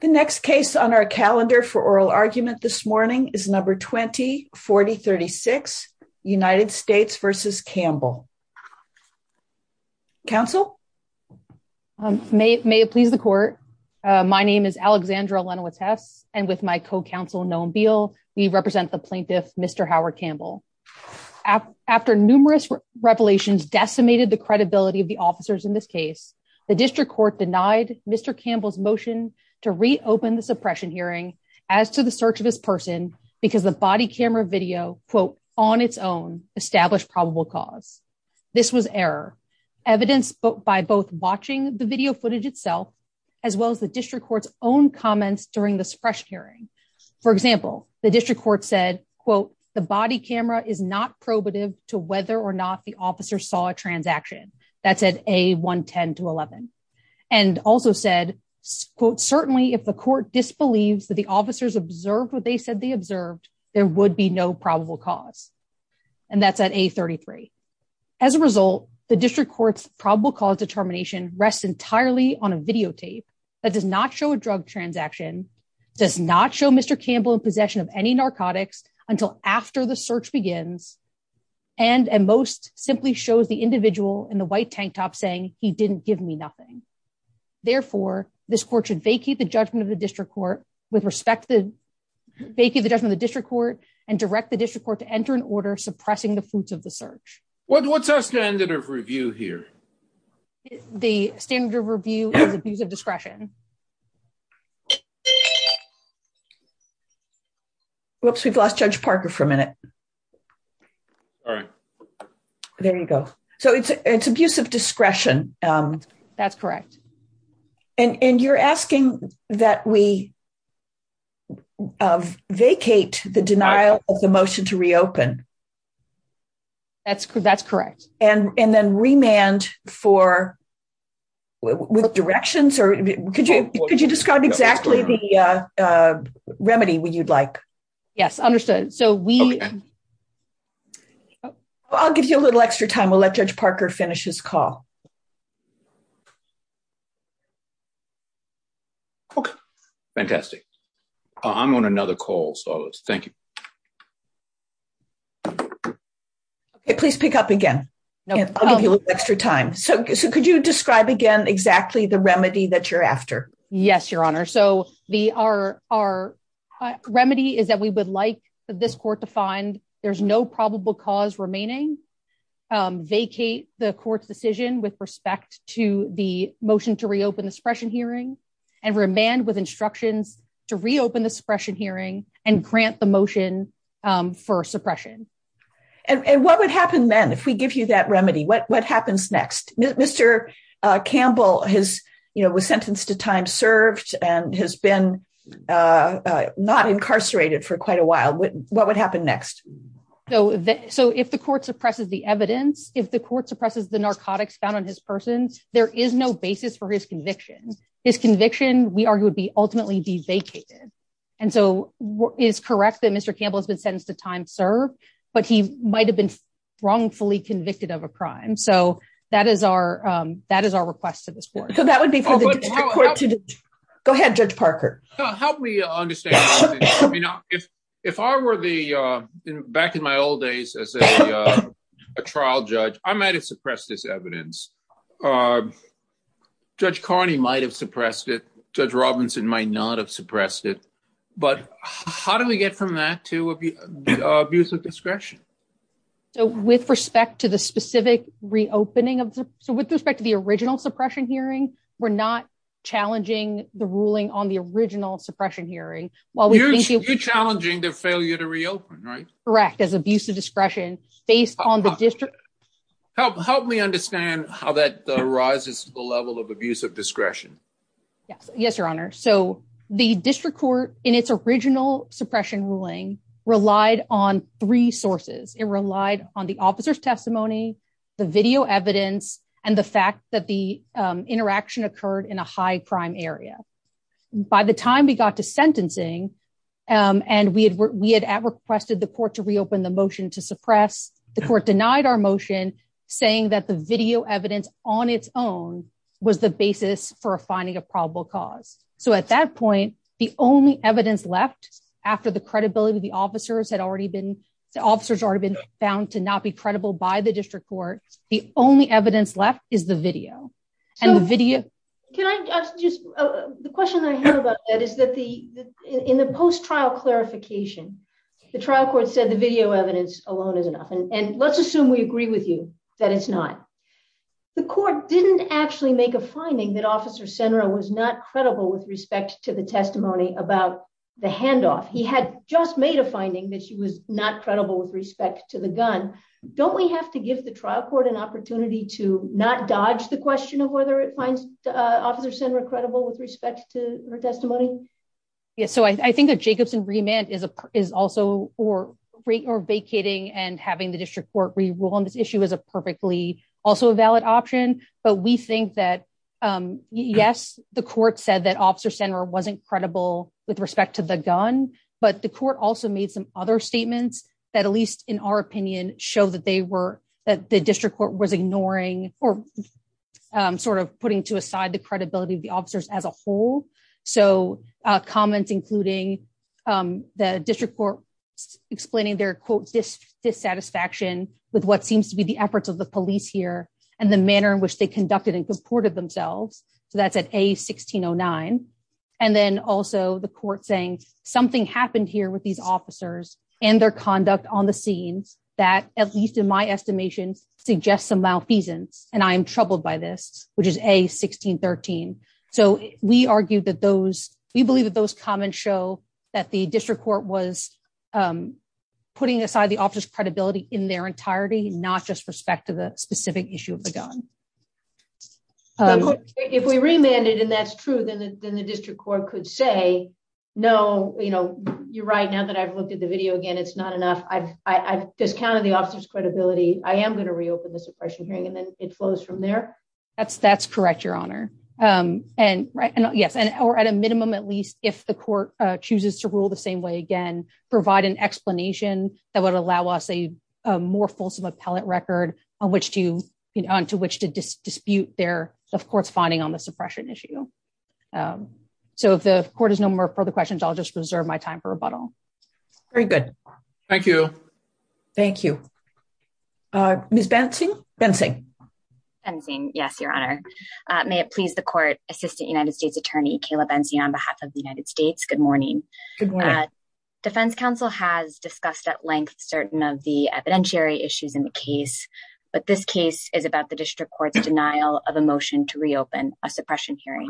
The next case on our calendar for oral argument this morning is number 2040 36 United States versus Campbell. Council may it may it please the court. My name is Alexandra Lenowitz tests, and with my co counsel known bill, we represent the plaintiff, Mr. Howard Campbell. After numerous revelations decimated the credibility of the officers in this case, the district court denied Mr. Campbell's motion to reopen the suppression hearing as to the search of his person, because the body camera video, quote, on its own established is not probative to whether or not the officer saw a transaction. That's at a 110 to 11, and also said, quote, certainly if the court disbelieves that the officers observed what they said they observed, there would be no probable cause. And that's at a 33. As a result, the district courts probable cause determination rests entirely on a videotape that does not show a drug transaction does not show Mr. of the district court with respect to the judgment of the district court and direct the district court to enter an order suppressing the fruits of the search. What's our standard of review here. The standard review of discretion. Whoops, we've lost Judge Parker for a minute. There you go. So it's, it's abusive discretion. That's correct. And you're asking that we have vacate the denial of the motion to reopen. That's correct, that's correct. And, and then remand for directions or could you could you describe exactly the remedy we you'd like. Yes, understood. So we I'll give you a little extra time we'll let Judge Parker finishes call. Fantastic. I'm on another call so thank you. Please pick up again. Extra time so could you describe again exactly the remedy that you're after. Yes, Your Honor, so the our, our remedy is that we would like this court to find there's no probable cause remaining vacate the court's decision with respect to the motion to reopen the suppression And what would happen then if we give you that remedy what what happens next, Mr. Campbell has, you know, was sentenced to time served, and has been not incarcerated for quite a while what what would happen next. So, so if the court suppresses the evidence, if the court suppresses the narcotics found on his persons, there is no basis for his conviction is conviction, we are going to be ultimately be vacated. And so, what is correct that Mr. Campbell has been sentenced to time serve, but he might have been wrongfully convicted of a crime so that is our, that is our request to this board. Go ahead, Judge Parker. Help me understand. If, if I were the back in my old days as a trial judge, I might have suppressed this evidence. Judge Carney might have suppressed it. Judge Robinson might not have suppressed it. But how do we get from that to abuse of discretion. So with respect to the specific reopening of. So with respect to the original suppression hearing, we're not challenging the ruling on the original suppression hearing, while we're challenging the failure to reopen right correct as abuse of discretion, based on the district. Help help me understand how that rises to the level of abuse of discretion. Yes, Your Honor. So, the district court in its original suppression ruling relied on three sources, it relied on the officer's testimony, the video evidence, and the fact that the interaction occurred in a high crime area. By the time we got to sentencing, and we had we had requested the court to reopen the motion to suppress the court denied our motion, saying that the video evidence on its own, was the basis for finding a probable cause. So at that point, the only evidence left after the credibility of the officers had already been officers already been found to not be credible by the district court, the only evidence left is the video and video. Can I just, the question I heard about that is that the in the post trial clarification. The trial court said the video evidence alone is enough and let's assume we agree with you that it's not. The court didn't actually make a finding that officer center was not credible with respect to the testimony about the handoff he had just made a finding that she was not credible with respect to the gun. Don't we have to give the trial court an opportunity to not dodge the question of whether it finds officer center credible with respect to her testimony. So I think that Jacobson remand is a is also or rate or vacating and having the district court we will on this issue is a perfectly also a valid option, but we think that, yes, the court said that officer center wasn't credible with respect to the gun, but the court also made some other statements that at least in our opinion, show that they were that the district court was ignoring or sort of putting to aside the credibility of the officers as a whole. So, comments, including the district court, explaining their quote this dissatisfaction with what seems to be the efforts of the police here, and the manner in which they conducted and purported themselves. So that's at a 1609. And then also the court saying something happened here with these officers and their conduct on the scenes that at least in my estimation, suggest some malfeasance, and I'm troubled by this, which is a 1613. So, we argued that those, we believe that those comments show that the district court was putting aside the office credibility in their entirety, not just respect to the specific issue of the gun. If we remanded and that's true, then the district court could say, No, you know, you're right now that I've looked at the video again it's not enough I discounted the officers credibility, I am going to reopen the suppression hearing and then it flows from there. That's, that's correct, Your Honor. And right and yes and or at a minimum at least if the court chooses to rule the same way again, provide an explanation that would allow us a more fulsome appellate record on which to, you know, to which to dispute their courts finding on the suppression issue. So if the court has no more further questions I'll just reserve my time for rebuttal. Very good. Thank you. Thank you. Miss Benson Benson. Yes, Your Honor. May it please the court, Assistant United States Attorney Kayla Benzie on behalf of the United States. Good morning. Defense Council has discussed at length certain of the evidentiary issues in the case, but this case is about the district court's denial of emotion to reopen a suppression hearing,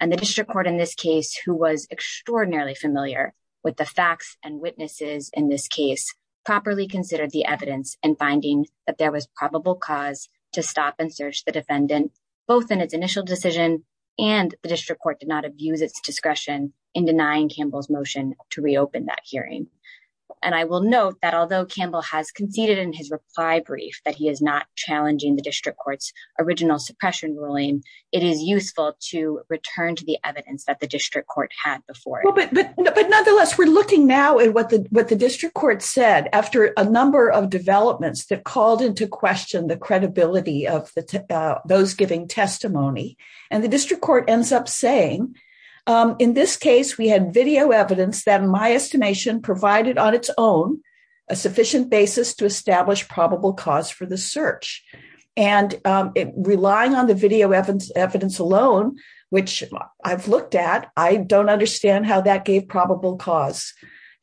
and the district court in this case who was extraordinarily familiar with the facts and witnesses in this case properly considered the evidence and finding that there was probable cause to stop and search the defendant, both in its initial decision, and the district court did not abuse its discretion in denying Campbell's motion to reopen that hearing. And I will note that although Campbell has conceded in his reply brief that he is not challenging the district court's original suppression ruling, it is useful to return to the evidence that the district court had before. But nonetheless we're looking now at what the what the district court said after a number of developments that called into question the credibility of the those giving testimony, and the district court ends up saying, in this case we had video evidence that my that gave probable cause.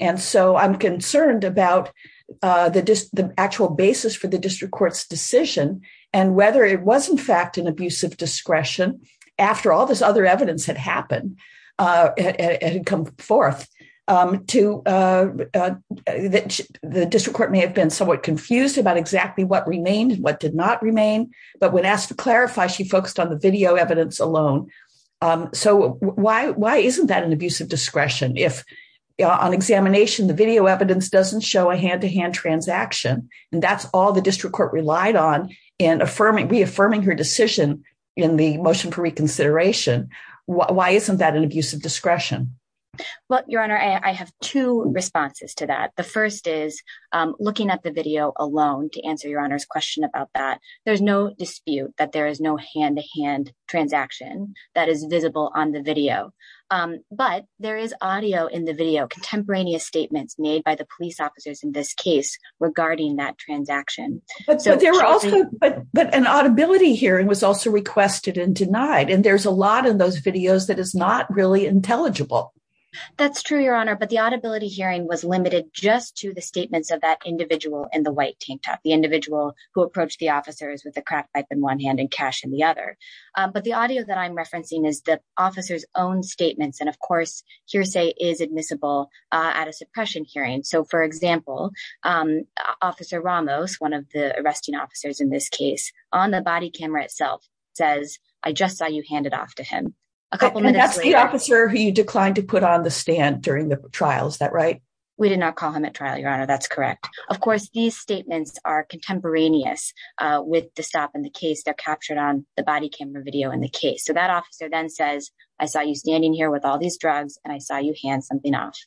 And so I'm concerned about the actual basis for the district court's decision, and whether it was in fact an abusive discretion, after all this other evidence had happened. It had come forth to the district court may have been somewhat confused about exactly what remained what did not remain, but when asked to clarify she focused on the video evidence alone. So, why, why isn't that an abusive discretion if on examination the video evidence doesn't show a hand to hand transaction, and that's all the district court relied on in affirming reaffirming her decision in the motion for reconsideration. Why isn't that an abusive discretion. Well, Your Honor, I have two responses to that. The first is looking at the video alone to answer your honor's question about that there's no dispute that there is no hand to hand transaction that is visible on the video. But there is audio in the video contemporaneous statements made by the police officers in this case, regarding that transaction. But there were also, but an audibility hearing was also requested and denied and there's a lot of those videos that is not really intelligible. That's true, Your Honor, but the audibility hearing was limited just to the statements of that individual and the white tank top the individual who approached the officers with a craft pipe in one hand and cash in the other. But the audio that I'm referencing is the officers own statements and of course hearsay is admissible at a suppression hearing so for example, Officer Ramos one of the arresting officers in this case on the body camera itself says, I just saw you handed off to him. That's the officer who you declined to put on the stand during the trials that right. We did not call him at trial, Your Honor, that's correct. Of course, these statements are contemporaneous with the stop in the case they're captured on the body camera video in the case so that officer then says, I saw you standing here with all these drugs, and I saw you hand something off.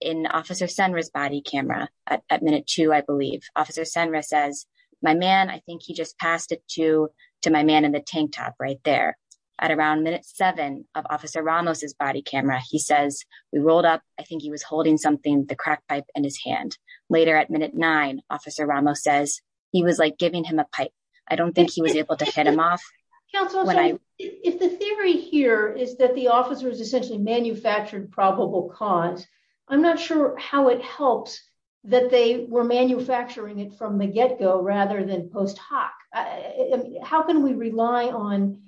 In Officer Senra's body camera at minute two I believe Officer Senra says, my man I think he just passed it to to my man in the tank top right there at around minute seven of Officer Ramos his body camera he says we rolled up, I think he was holding something the crack pipe and his hand later at minute nine Officer Ramos says he was like giving him a pipe. I don't think he was able to hit him off. If the theory here is that the officers essentially manufactured probable cause. I'm not sure how it helps that they were manufacturing it from the get go rather than post hoc. How can we rely on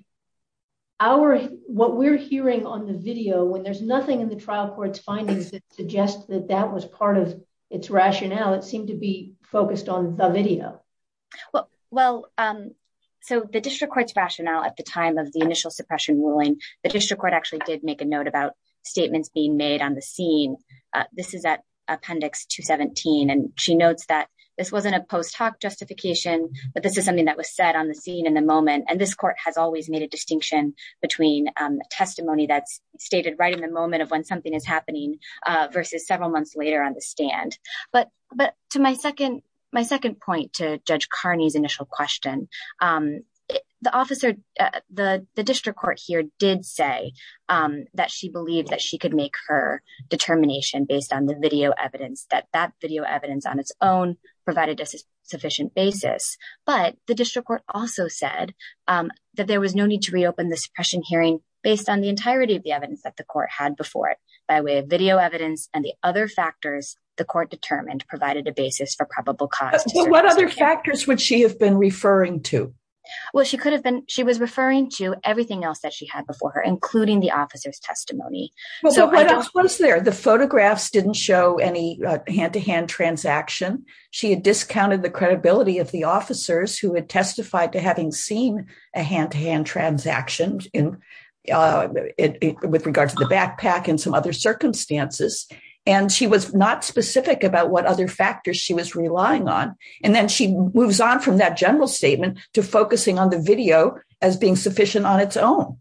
our what we're hearing on the video when there's nothing in the trial courts findings that suggest that that was part of its rationale it seemed to be focused on the video. Well, so the district courts rationale at the time of the initial suppression ruling, the district court actually did make a note about statements being made on the scene. This is that appendix to 17 and she notes that this wasn't a post hoc justification, but this is something that was said on the scene in the moment and this court has always made a distinction between testimony that's stated right in the moment of when something is initial question. The officer, the district court here did say that she believed that she could make her determination based on the video evidence that that video evidence on its own, provided a sufficient basis, but the district court also said that there was no need to reopen the suppression hearing, based on the entirety of the evidence that the court had before it by way of video evidence and the other factors, the court determined provided a basis for probable cause. What other factors would she have been referring to. Well, she could have been, she was referring to everything else that she had before her including the officers testimony. The photographs didn't show any hand to hand transaction. She had discounted the credibility of the officers who had testified to having seen a hand to hand transaction in with regards to the backpack and some other circumstances, and she was not specific about what other factors she was relying on, and then she moves on from that general statement to focusing on the video as being sufficient on its own.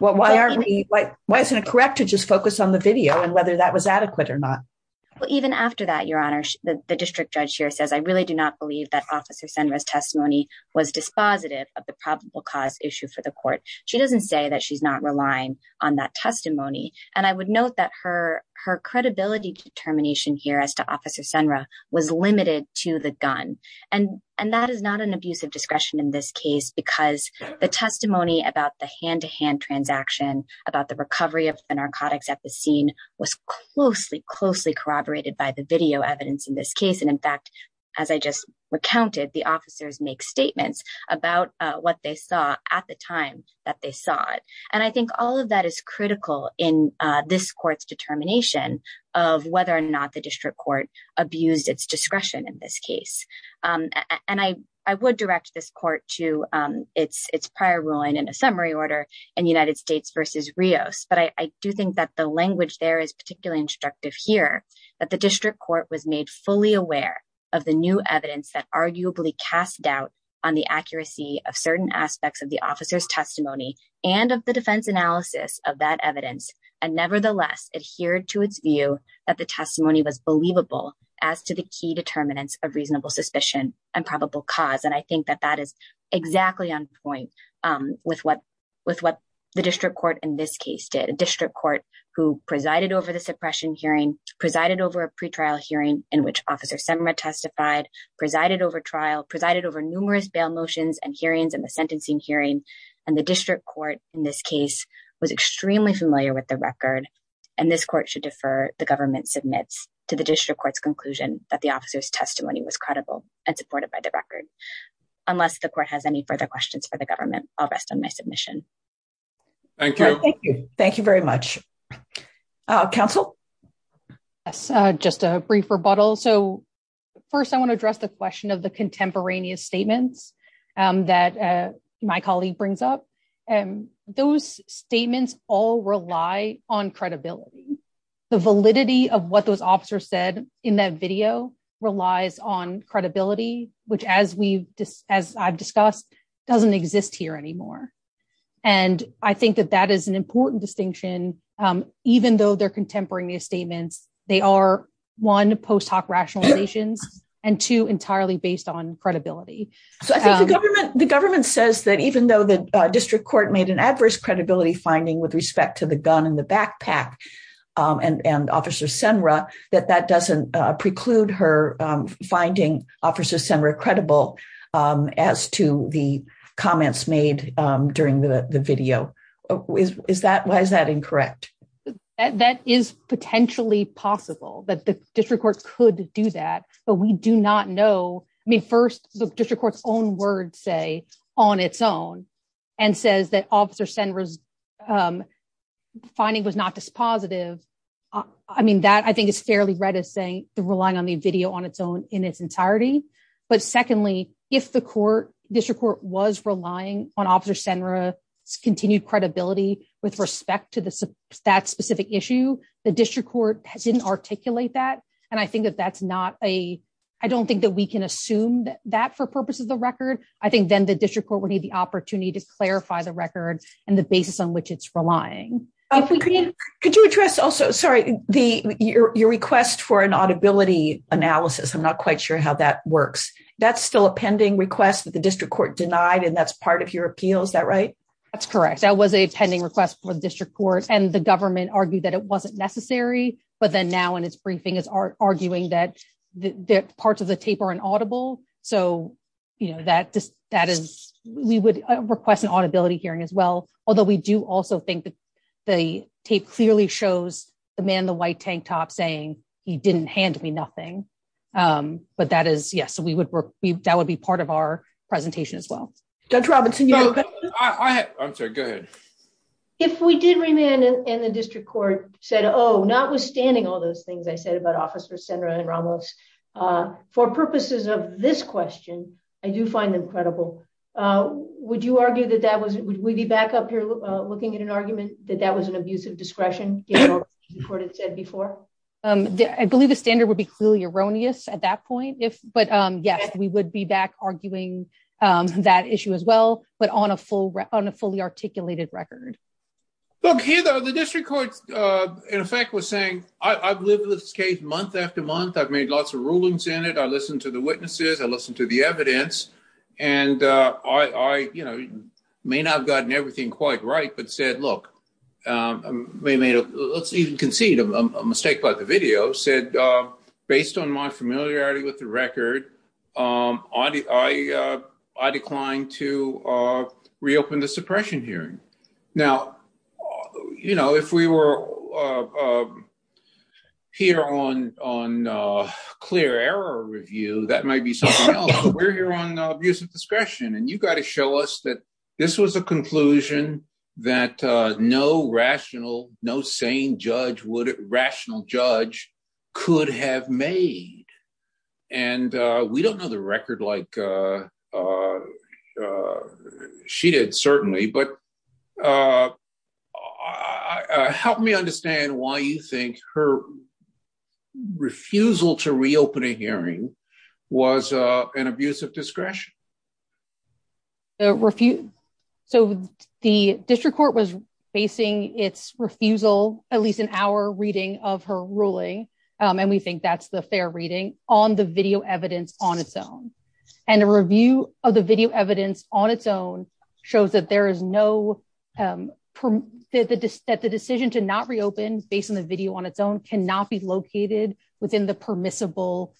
Well, why are we like, why isn't it correct to just focus on the video and whether that was adequate or not. Well, even after that Your Honor, the district judge here says I really do not believe that officer centers testimony was dispositive of the probable cause issue for the court. She doesn't say that she's not relying on that testimony, and I would note that her, her credibility determination here as to officer Sandra was limited to the gun, and, and that is not an abuse of discretion in this case because the testimony about the hand to hand transaction about the recovery of the narcotics at the scene was closely closely corroborated by the video evidence in this case and in fact, as I just recounted the officers make statements about what they saw at the time that they saw it. And I think all of that is critical in this court's determination of whether or not the district court abused its discretion in this case. And I, I would direct this court to its its prior ruling in a summary order, and United States versus Rios but I do think that the language there is particularly instructive here that the district court was made fully aware of the new evidence that arguably cast doubt on the accuracy of certain aspects of the officers testimony, and of the defense analysis of that evidence, and nevertheless adhere to its view that the testimony was believable as to the key determinants of reasonable suspicion and probable cause and I think that that is exactly on point with what with what the district court in this case did a district court, who presided over the suppression hearing presided over a pre trial hearing in which officer summer testified presided over trial presided over numerous bail motions and hearings and the sentencing hearing, and the district court in this case was extremely familiar with the record. And this court should defer the government submits to the district court's conclusion that the officers testimony was credible and supported by the record. Unless the court has any further questions for the government, I'll rest on my submission. Thank you. Thank you very much. Council. Just a brief rebuttal. So, first I want to address the question of the contemporaneous statements that my colleague brings up, and those statements all rely on credibility, the validity of what those officers said in that video relies on credibility, which as we've discussed as I've discussed doesn't exist here anymore. And I think that that is an important distinction, even though they're contemporaneous statements, they are one post hoc rationalizations and to entirely based on credibility. So I think the government, the government says that even though the district court made an adverse credibility finding with respect to the gun in the backpack and officer Sandra, that that doesn't preclude her finding officers center credible. As to the comments made during the video. Is that why is that incorrect. That is potentially possible that the district court could do that, but we do not know me first district court's own word say on its own, and says that officer senders finding was not this positive. I mean that I think it's fairly read as saying the relying on the video on its own in its entirety. But secondly, if the court district court was relying on officer Sandra continued credibility, with respect to this, that specific issue, the district court didn't articulate that. And I think that that's not a, I don't think that we can assume that for purposes of record, I think then the district court would need the opportunity to clarify the record, and the basis on which it's relying. Could you address also sorry, the your request for an audibility analysis I'm not quite sure how that works. That's still a pending request that the district court denied and that's part of your appeals that right. That's correct. That was a pending request for the district court and the government argued that it wasn't necessary, but then now and it's briefing is arguing that the parts of the tape or an audible, so you know that that is, we would request an audibility hearing as well, although we do also think that the tape clearly shows the man the white tank top saying he didn't hand me nothing. But that is yes so we would be that would be part of our presentation as well. That's Robinson. I'm so good. If we did remain in the district court said oh notwithstanding all those things I said about officer center and Ramos. For purposes of this question, I do find them credible. Would you argue that that was, we'd be back up here, looking at an argument that that was an abusive discretion reported said before. I believe the standard would be clearly erroneous at that point if, but yes, we would be back arguing that issue as well, but on a full on a fully articulated record. Okay, the district court, in effect was saying, I believe this case month after month I've made lots of rulings in it I listened to the witnesses I listened to the evidence. And I, you know, may not have gotten everything quite right but said, look, may made a, let's even concede a mistake by the video said, based on my familiarity with the record. I, I declined to reopen the suppression hearing. Now, you know, if we were here on on clear error review that might be something we're here on use of discretion and you got to show us that this was a conclusion that no rational, no sane judge would rational judge could have made. And we don't know the record like she did certainly but help me understand why you think her refusal to reopen a hearing was an abusive discretion. The refute. So, the district court was facing its refusal, at least an hour reading of her ruling, and we think that's the fair reading on the video evidence on its own, and a review of the video evidence on its own, shows that there is no that the decision to not reopen based on the video on its own cannot be located within the permissible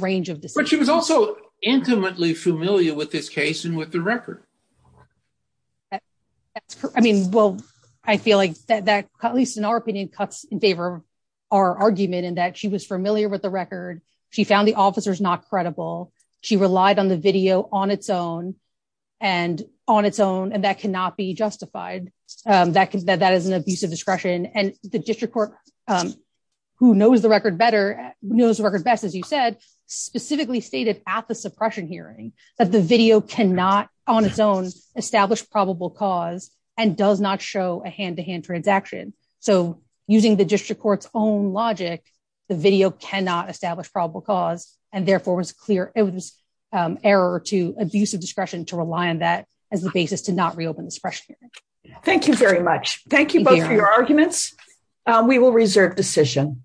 range of this, but she was also intimately familiar with this case and with the record. I mean, well, I feel like that at least in our opinion cuts in favor of our argument and that she was familiar with the record. She found the officers not credible. She relied on the video on its own, and on its own and that cannot be justified. That is an abusive discretion and the district court, who knows the record better knows the record best as you said, specifically stated at the suppression hearing that the video cannot on its own, establish probable cause, and does not show a hand to hand Thank you very much. Thank you both for your arguments. We will reserve decision.